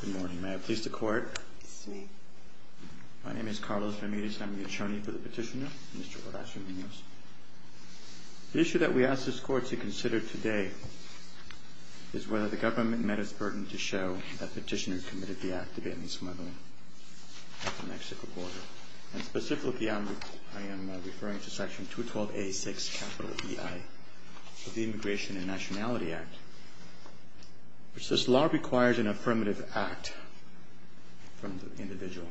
Good morning. May I please the Court? Yes, ma'am. My name is Carlos Ramirez and I'm the attorney for the petitioner, Mr. Horacio Munoz. The issue that we ask this Court to consider today is whether the government met its burden to show that petitioners committed the act of alien smuggling at the Mexico border. And specifically, I am referring to section 212A6, capital EI, of the Immigration and Nationality Act, which says law requires an affirmative act from the individual.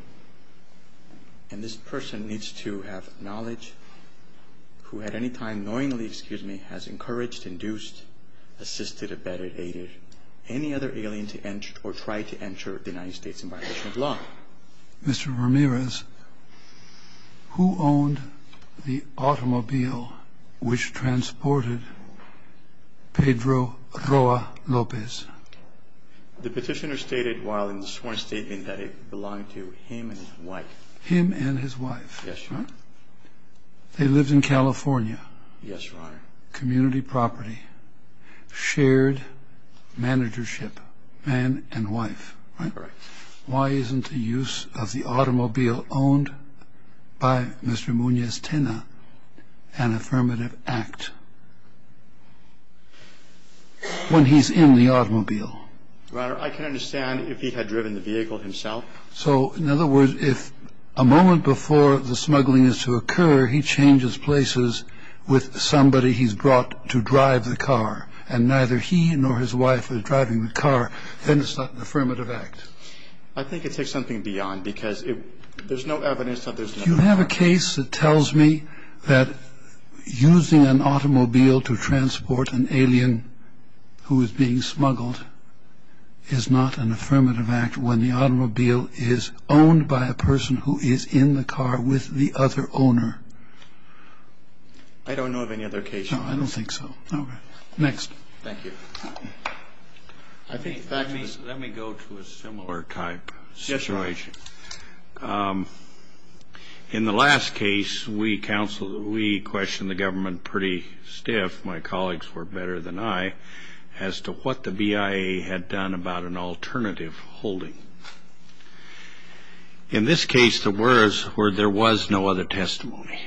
And this person needs to have knowledge who at any time knowingly, excuse me, has encouraged, induced, assisted, abetted, aided any other alien to enter or try to enter the United States in violation of law. Mr. Ramirez, who owned the automobile which transported Pedro Roa Lopez? The petitioner stated while in the sworn statement that it belonged to him and his wife. Him and his wife. Yes, Your Honor. They lived in California. Yes, Your Honor. Community property, shared managership, man and wife, right? Correct. Why isn't the use of the automobile owned by Mr. Munoz Tena an affirmative act when he's in the automobile? Your Honor, I can understand if he had driven the vehicle himself. So, in other words, if a moment before the smuggling is to occur, he changes places with somebody he's brought to drive the car, and neither he nor his wife is driving the car, then it's not an affirmative act. I think it takes something beyond, because there's no evidence that there's another car. You have a case that tells me that using an automobile to transport an alien who is being smuggled is not an affirmative act when the automobile is owned by a person who is in the car with the other owner. I don't know of any other case. No, I don't think so. All right. Next. Thank you. Let me go to a similar type situation. Yes, Your Honor. In the last case, we questioned the government pretty stiff. My colleagues were better than I as to what the BIA had done about an alternative holding. In this case, the words were there was no other testimony.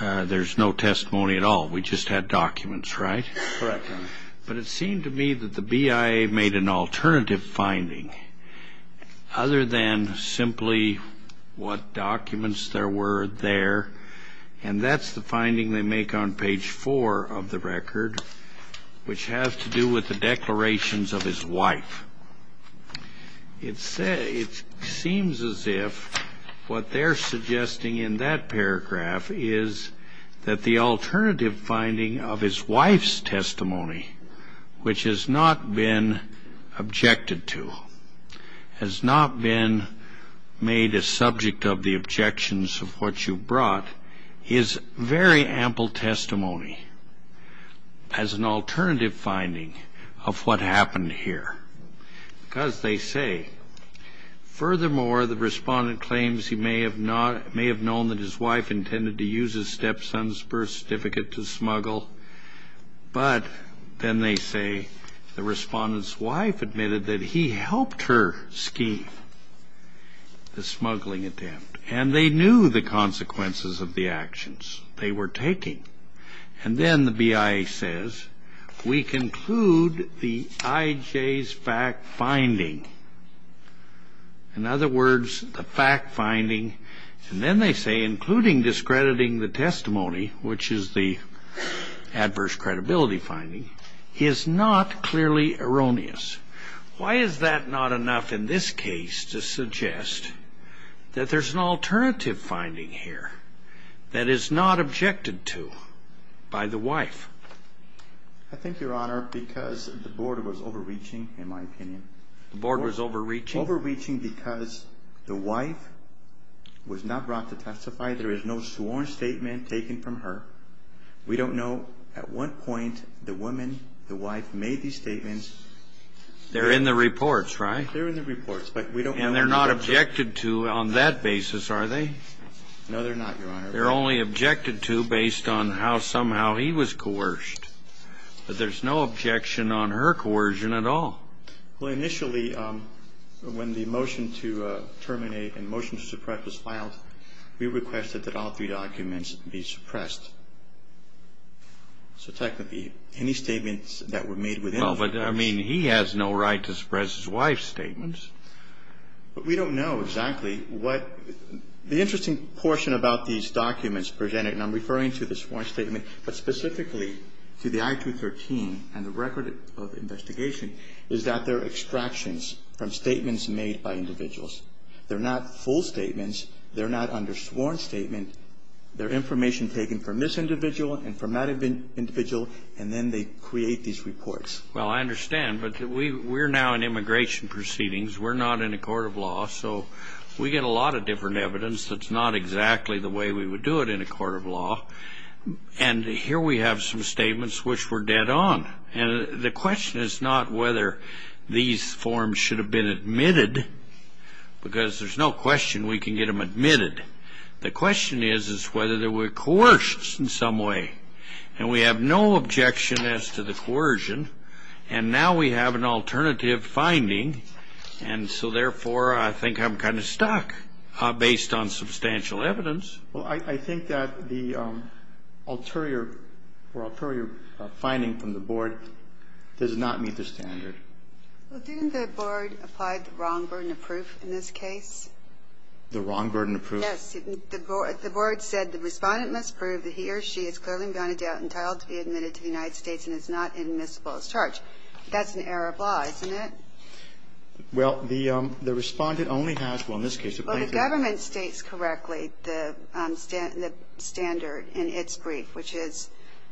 There's no testimony at all. We just had documents, right? Correct, Your Honor. But it seemed to me that the BIA made an alternative finding other than simply what documents there were there, and that's the finding they make on page 4 of the record, which has to do with the declarations of his wife. It seems as if what they're suggesting in that paragraph is that the alternative finding of his wife's testimony, which has not been objected to, has not been made a subject of the objections of what you brought, is very ample testimony as an alternative finding of what happened here, because they say, furthermore, the respondent claims he may have known that his wife intended to use his stepson's birth certificate to smuggle, but then they say the respondent's wife admitted that he helped her scheme the smuggling attempt, and they knew the consequences of the actions they were taking. And then the BIA says, we conclude the IJ's fact-finding. In other words, the fact-finding, and then they say, including discrediting the testimony, which is the adverse credibility finding, is not clearly erroneous. Why is that not enough in this case to suggest that there's an alternative finding here that is not objected to by the wife? I think, Your Honor, because the board was overreaching, in my opinion. The board was overreaching? Overreaching because the wife was not brought to testify. There is no sworn statement taken from her. We don't know at what point the woman, the wife, made these statements. They're in the reports, right? They're in the reports, but we don't know. And they're not objected to on that basis, are they? No, they're not, Your Honor. They're only objected to based on how somehow he was coerced. But there's no objection on her coercion at all. Well, initially, when the motion to terminate and motion to suppress was filed, we requested that all three documents be suppressed. So, technically, any statements that were made within the documents. Well, but, I mean, he has no right to suppress his wife's statements. But we don't know exactly what. The interesting portion about these documents presented, and I'm referring to the sworn statement, but specifically to the I-213 and the record of investigation, is that they're extractions from statements made by individuals. They're not full statements. They're not under sworn statement. They're information taken from this individual and from that individual, and then they create these reports. Well, I understand, but we're now in immigration proceedings. We're not in a court of law, so we get a lot of different evidence that's not exactly the way we would do it in a court of law. And here we have some statements which were dead on. And the question is not whether these forms should have been admitted, because there's no question we can get them admitted. The question is, is whether they were coerced in some way. And we have no objection as to the coercion. And now we have an alternative finding, and so, therefore, I think I'm kind of stuck based on substantial evidence. Well, I think that the ulterior or ulterior finding from the Board does not meet the standard. Well, didn't the Board apply the wrong burden of proof in this case? The wrong burden of proof? Yes. The Board said the Respondent must prove that he or she is clearly and beyond a doubt entitled to be admitted to the United States and is not admissible as charged. That's an error of law, isn't it? Well, the Respondent only has, well, in this case, a plaintiff. The government states correctly the standard in its brief, which is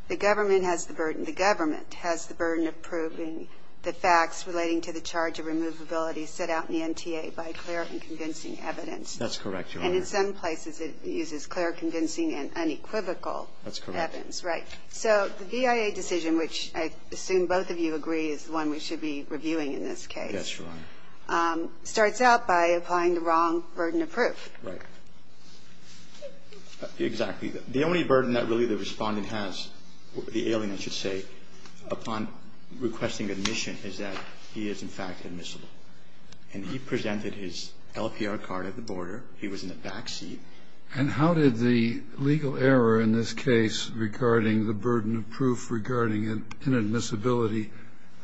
the government has the burden, the government has the burden of proving the facts relating to the charge of removability set out in the NTA by clear and convincing evidence. That's correct, Your Honor. And in some places it uses clear, convincing and unequivocal evidence. That's correct. Right. So the VIA decision, which I assume both of you agree is the one we should be reviewing in this case. Yes, Your Honor. The only burden that the Respondent has, the alien, I should say, upon requesting admission is that he is in fact admissible. And he presented his LPR card at the border. He was in the back seat. And how did the legal error in this case regarding the burden of proof regarding inadmissibility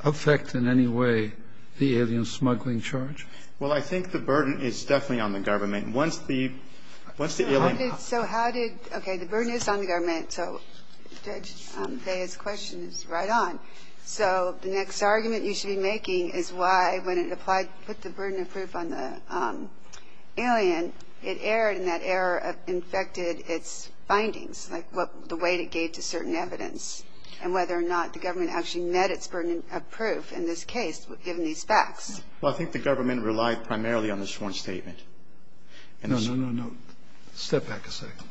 affect in any way the alien smuggling charge? Well, I think the burden is definitely on the government. Once the alien ---- So how did, okay, the burden is on the government. So Judge Fahy's question is right on. So the next argument you should be making is why when it applied, put the burden of proof on the alien, it erred and that error infected its findings, like the weight it gave to certain evidence and whether or not the government actually met its burden of proof in this case given these facts. Well, I think the government relied primarily on this one statement. No, no, no, no. Step back a second.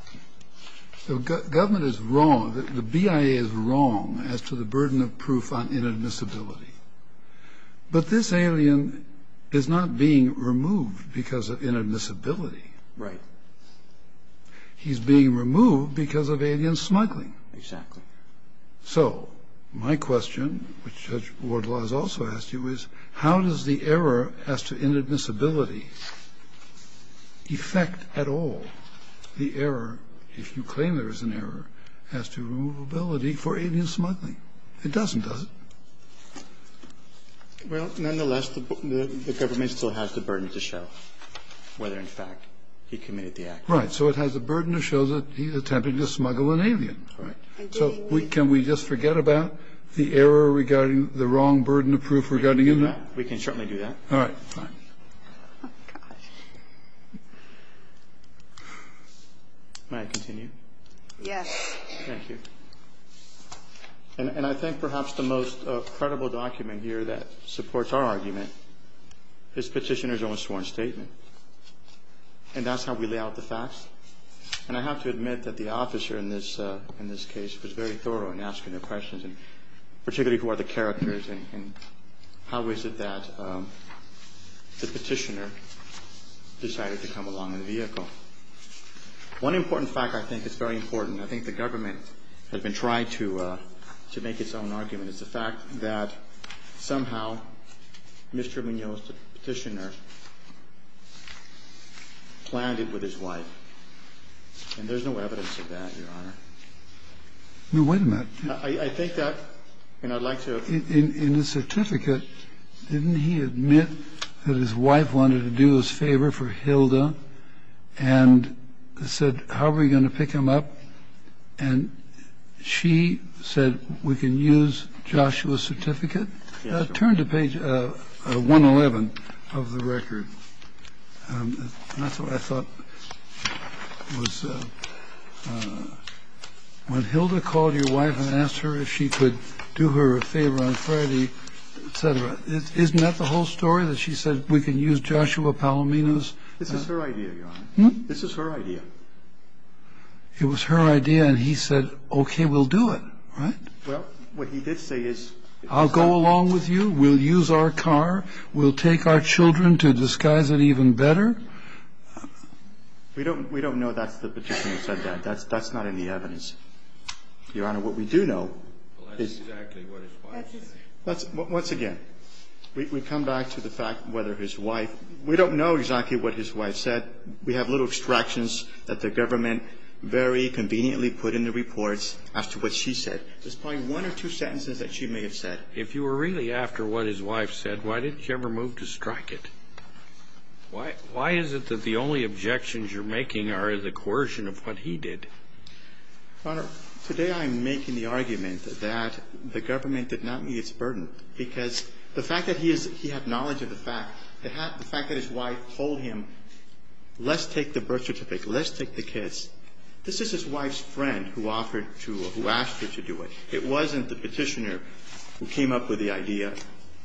The government is wrong, the BIA is wrong as to the burden of proof on inadmissibility. But this alien is not being removed because of inadmissibility. Right. He's being removed because of alien smuggling. Exactly. So my question, which Judge Wardlaw has also asked you, is how does the error as to inadmissibility affect at all the error, if you claim there is an error, as to removability for alien smuggling? It doesn't, does it? Well, nonetheless, the government still has the burden to show whether, in fact, he committed the act. Right. So it has a burden to show that he's attempting to smuggle an alien, right? So can we just forget about the error regarding the wrong burden of proof regarding inadmissibility? We can certainly do that. All right. Fine. May I continue? Yes. Thank you. And I think perhaps the most credible document here that supports our argument is Petitioner's own sworn statement. And that's how we lay out the facts. And I have to admit that the officer in this case was very thorough in asking the questions, particularly who are the characters and how is it that the petitioner decided to come along in the vehicle. One important fact I think is very important, I think the government has been trying to make its own argument, is the fact that somehow Mr. Munoz, the petitioner, planned it with his wife. And there's no evidence of that, Your Honor. Wait a minute. I think that, and I'd like to... In the certificate, didn't he admit that his wife wanted to do his favor for Hilda and said, how are we going to pick him up? And she said, we can use Joshua's certificate. Turn to page 111 of the record. That's what I thought was... When Hilda called your wife and asked her if she could do her a favor on Friday, et cetera, isn't that the whole story, that she said, we can use Joshua Palomino's? This is her idea, Your Honor. This is her idea. It was her idea and he said, okay, we'll do it, right? Well, what he did say is... I'll go along with you. We'll use our car. We'll take our children to disguise it even better. We don't know that's the petitioner said that. That's not any evidence. Your Honor, what we do know is... That's exactly what his wife said. Once again, we come back to the fact whether his wife, we don't know exactly what his wife said. We have little extractions that the government very conveniently put in the reports as to what she said. There's probably one or two sentences that she may have said. If you were really after what his wife said, why didn't you ever move to strike it? Why is it that the only objections you're making are the coercion of what he did? Your Honor, today I'm making the argument that the government did not meet its burden because the fact that he had knowledge of the fact, the fact that his wife told him, let's take the birth certificate, let's take the kids. This is his wife's friend who offered to, who asked her to do it. It wasn't the petitioner who came up with the idea.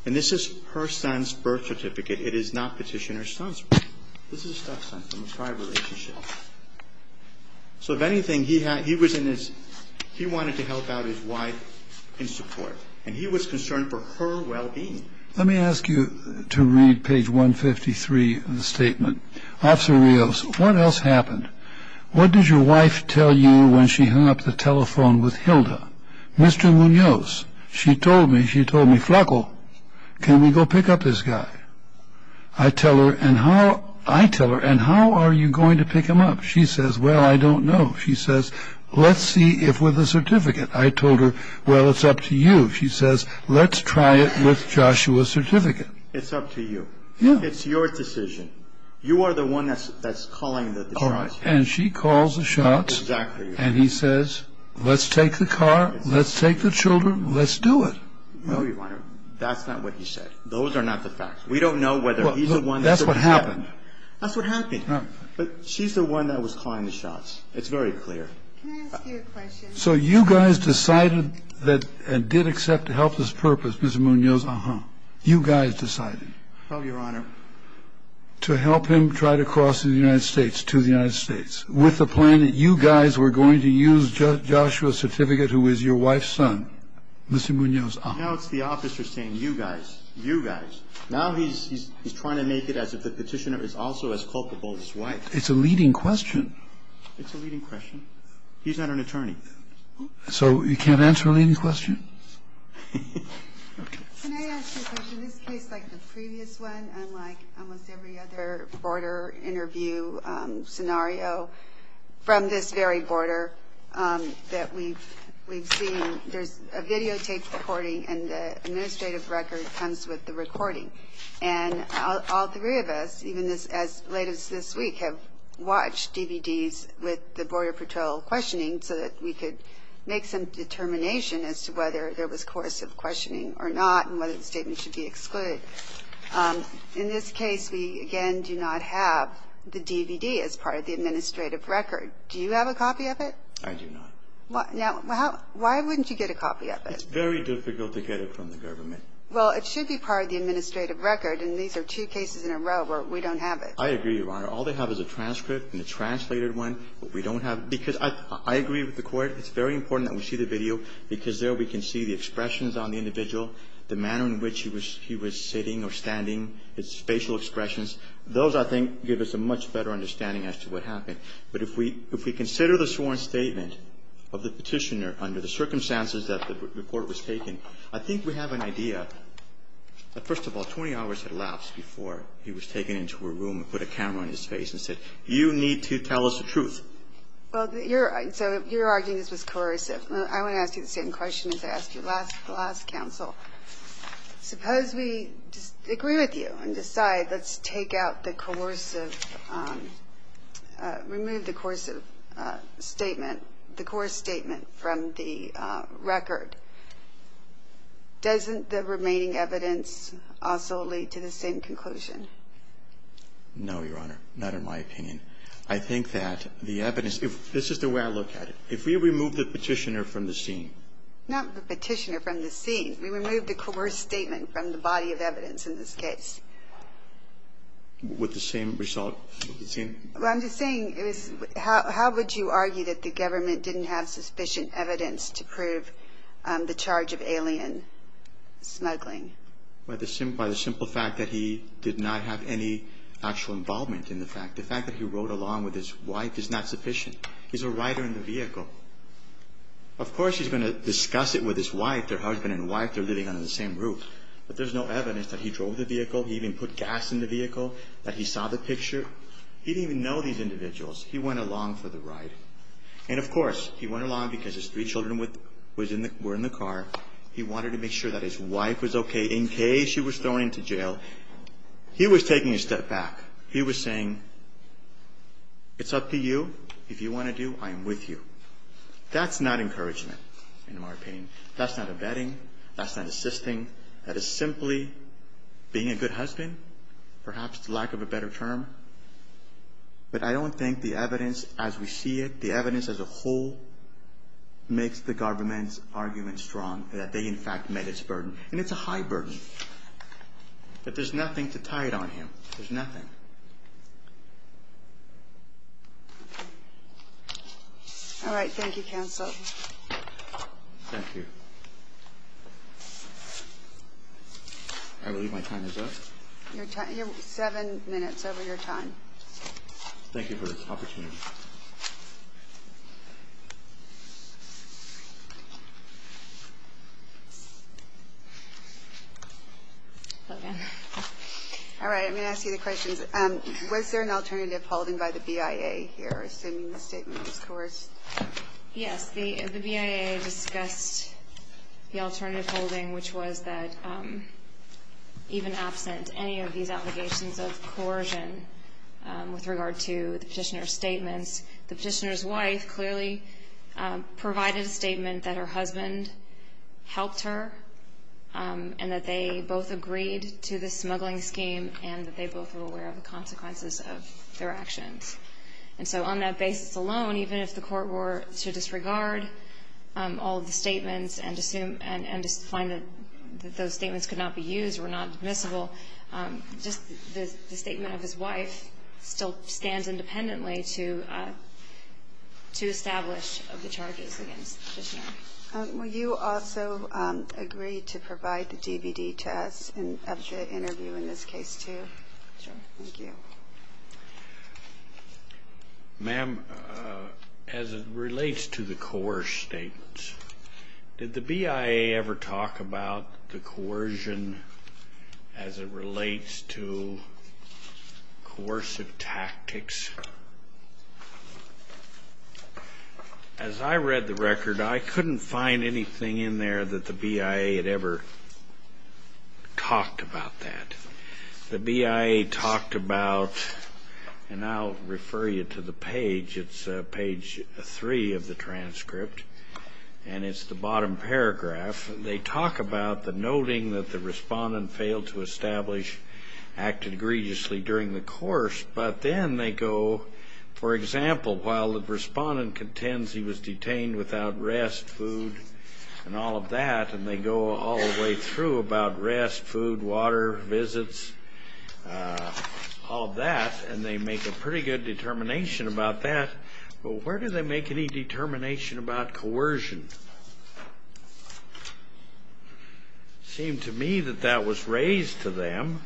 And this is her son's birth certificate. It is not petitioner's son's birth certificate. This is his stepson from a prior relationship. So if anything, he was in his, he wanted to help out his wife in support, and he was concerned for her well-being. Let me ask you to read page 153 of the statement. Officer Rios, what else happened? What did your wife tell you when she hung up the telephone with Hilda? Mr. Munoz, she told me, she told me, Flaco, can we go pick up this guy? I tell her, and how are you going to pick him up? She says, well, I don't know. She says, let's see if with the certificate. I told her, well, it's up to you. She says, let's try it with Joshua's certificate. It's up to you. It's your decision. You are the one that's calling the shots here. And she calls the shots. Exactly. And he says, let's take the car, let's take the children, let's do it. No, Your Honor, that's not what he said. Those are not the facts. We don't know whether he's the one. That's what happened. That's what happened. But she's the one that was calling the shots. It's very clear. Can I ask you a question? So you guys decided that and did accept to help this purpose, Mr. Munoz? Uh-huh. You guys decided? Well, Your Honor, to help him try to cross the United States to the United States with the plan that you guys were going to use Joshua's certificate, who is your wife's son, Mr. Munoz. Now it's the officer saying you guys, you guys. Now he's trying to make it as if the petitioner is also as culpable as his wife. It's a leading question. It's a leading question. He's not an attorney. So you can't answer a leading question? Can I ask you a question? This case, like the previous one, unlike almost every other border interview scenario from this very border that we've seen, there's a videotaped recording and the administrative record comes with the recording. And all three of us, even as late as this week, have watched DVDs with the Border Patrol questioning so that we could make some determination as to whether there was coercive questioning or not and whether the statement should be excluded. In this case, we, again, do not have the DVD as part of the administrative record. Do you have a copy of it? I do not. Now, why wouldn't you get a copy of it? It's very difficult to get it from the government. Well, it should be part of the administrative record. I agree, Your Honor. All they have is a transcript and a translated one. What we don't have, because I agree with the Court, it's very important that we see the video because there we can see the expressions on the individual, the manner in which he was sitting or standing, his facial expressions. Those, I think, give us a much better understanding as to what happened. But if we consider the sworn statement of the Petitioner under the circumstances that the report was taken, I think we have an idea that, first of all, 20 hours had elapsed before he was taken into a room and put a camera on his face and said, you need to tell us the truth. Well, you're arguing this was coercive. I want to ask you the same question as I asked you last counsel. Suppose we agree with you and decide let's take out the coercive, remove the coercive statement, the coerced statement from the record. Doesn't the remaining evidence also lead to the same conclusion? No, Your Honor. Not in my opinion. I think that the evidence, if this is the way I look at it, if we remove the Petitioner from the scene. Not the Petitioner from the scene. We remove the coerced statement from the body of evidence in this case. With the same result? Well, I'm just saying, how would you argue that the government didn't have sufficient evidence to prove the charge of alien smuggling? By the simple fact that he did not have any actual involvement in the fact. The fact that he rode along with his wife is not sufficient. He's a rider in the vehicle. Of course, he's going to discuss it with his wife, their husband and wife, they're living under the same roof. But there's no evidence that he drove the vehicle, he even put gas in the vehicle, that he saw the picture. He didn't even know these individuals. He went along for the ride. And, of course, he went along because his three children were in the car. He wanted to make sure that his wife was okay in case she was thrown into jail. He was taking a step back. He was saying, it's up to you. If you want to do, I am with you. That's not encouragement, in my opinion. That's not abetting. That's not assisting. That is simply being a good husband, perhaps lack of a better term. But I don't think the evidence, as we see it, the evidence as a whole makes the government's argument strong that they, in fact, met its burden. And it's a high burden. But there's nothing to tie it on him. There's nothing. All right. Thank you, Counsel. Thank you. I believe my time is up. Seven minutes over your time. Thank you for this opportunity. All right. I'm going to ask you the questions. Was there an alternative holding by the BIA here, assuming the statement was coerced? Yes. Yes, the BIA discussed the alternative holding, which was that even absent any of these allegations of coercion with regard to the petitioner's statements, the petitioner's wife clearly provided a statement that her husband helped her and that they both agreed to the smuggling scheme and that they both were aware of the consequences of their actions. And so on that basis alone, even if the court were to disregard all of the statements and just find that those statements could not be used, were not admissible, just the statement of his wife still stands independently to establish the charges against the petitioner. Will you also agree to provide the DVD to us of the interview in this case, too? Sure. Thank you. Thank you. Ma'am, as it relates to the coerced statements, did the BIA ever talk about the coercion as it relates to coercive tactics? As I read the record, I couldn't find anything in there that the BIA had ever talked about that. The BIA talked about, and I'll refer you to the page, it's page 3 of the transcript, and it's the bottom paragraph. They talk about the noting that the respondent failed to establish, acted egregiously during the course, but then they go, for example, while the respondent contends he was detained without rest, food, and all of that, and they go all the way through about rest, food, water, visits, all of that, and they make a pretty good determination about that. But where do they make any determination about coercion? It seemed to me that that was raised to them,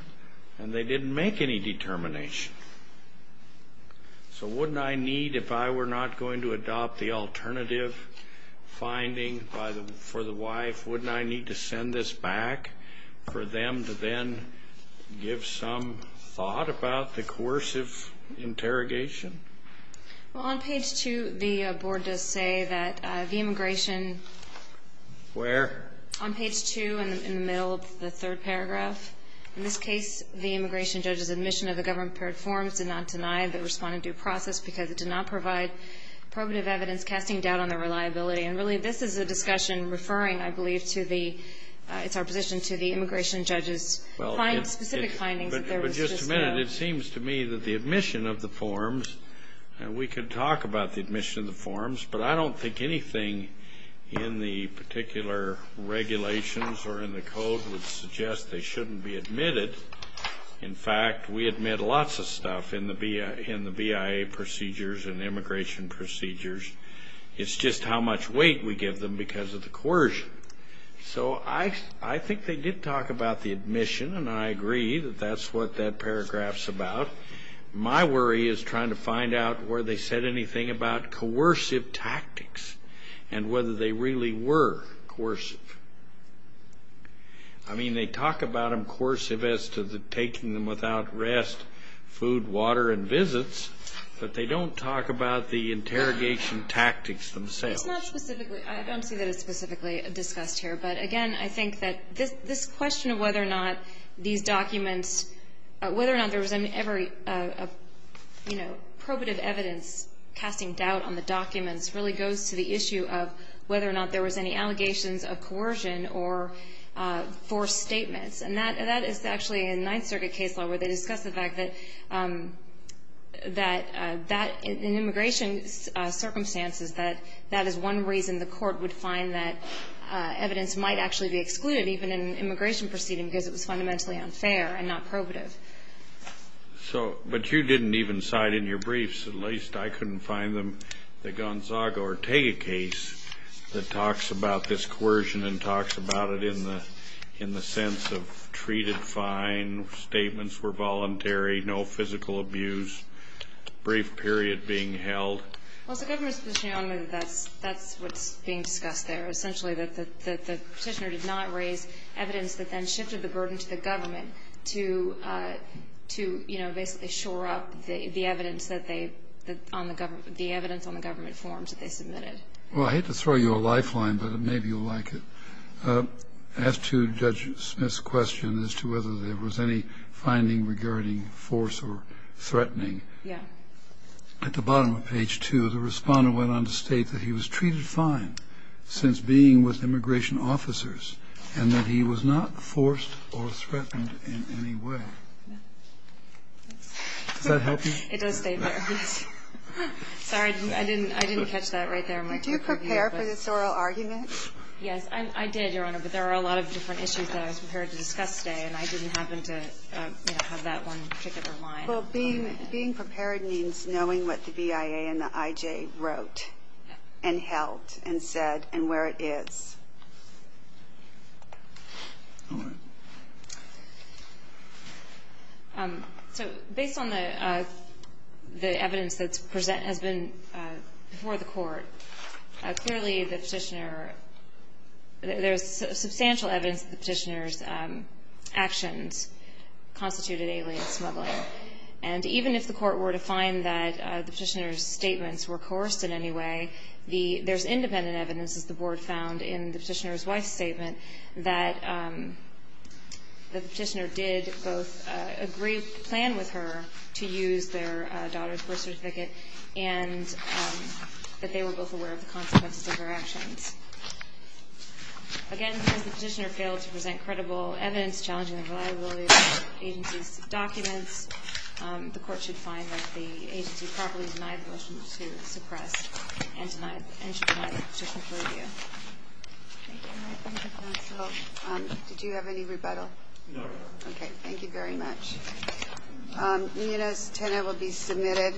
and they didn't make any determination. So wouldn't I need, if I were not going to adopt the alternative finding for the wife, wouldn't I need to send this back for them to then give some thought about the coercive interrogation? Well, on page 2, the board does say that the immigration... Where? On page 2, in the middle of the third paragraph. In this case, the immigration judge's admission of the government-prepared forms did not deny the respondent due process because it did not provide probative evidence casting doubt on their reliability. And really, this is a discussion referring, I believe, to the immigration judge's specific findings. But just a minute. It seems to me that the admission of the forms, we could talk about the admission of the forms, but I don't think anything in the particular regulations or in the code would suggest they shouldn't be admitted. In fact, we admit lots of stuff in the BIA procedures and immigration procedures. It's just how much weight we give them because of the coercion. So I think they did talk about the admission, and I agree that that's what that paragraph's about. But my worry is trying to find out whether they said anything about coercive tactics and whether they really were coercive. I mean, they talk about them coercive as to taking them without rest, food, water, and visits, but they don't talk about the interrogation tactics themselves. It's not specifically. I don't see that it's specifically discussed here. But, again, I think that this question of whether or not these documents, whether or not there was ever probative evidence casting doubt on the documents really goes to the issue of whether or not there was any allegations of coercion or forced statements. And that is actually in Ninth Circuit case law where they discuss the fact that in immigration circumstances that that is one reason the court would find that evidence might actually be excluded, even in an immigration proceeding, because it was fundamentally unfair and not probative. But you didn't even cite in your briefs, at least I couldn't find them, the Gonzaga-Ortega case that talks about this coercion and talks about it in the sense of treated fine, statements were voluntary, no physical abuse, brief period being held. Well, it's the government's position, Your Honor, that that's what's being discussed there, essentially that the Petitioner did not raise evidence that then shifted the burden to the government to, you know, basically shore up the evidence that they, the evidence on the government forms that they submitted. Well, I hate to throw you a lifeline, but maybe you'll like it. As to Judge Smith's question as to whether there was any finding regarding force or threatening. Yeah. At the bottom of page 2, the Respondent went on to state that he was treated fine since being with immigration officers and that he was not forced or threatened in any way. Does that help you? It does stay there. Sorry, I didn't catch that right there. Did you prepare for this oral argument? Yes, I did, Your Honor, but there are a lot of different issues that I was prepared to discuss today, and I didn't happen to have that one particular line. Well, being prepared means knowing what the BIA and the IJ wrote and held and said and where it is. All right. So based on the evidence that has been before the Court, clearly the Petitioner, there's substantial evidence that the Petitioner's actions constituted alien smuggling. And even if the Court were to find that the Petitioner's statements were coerced in any way, there's independent evidence, as the Board found in the Petitioner's wife's statement, that the Petitioner did both agree to plan with her to use their daughter's birth certificate and that they were both aware of the consequences of her actions. Again, because the Petitioner failed to present credible evidence challenging the reliability of the agency's documents, the Court should find that the agency properly denied the motion to suppress and should deny the Petitioner's review. Thank you, Your Honor. Thank you, counsel. Did you have any rebuttal? No, Your Honor. Thank you very much. Nina's tenant will be submitted.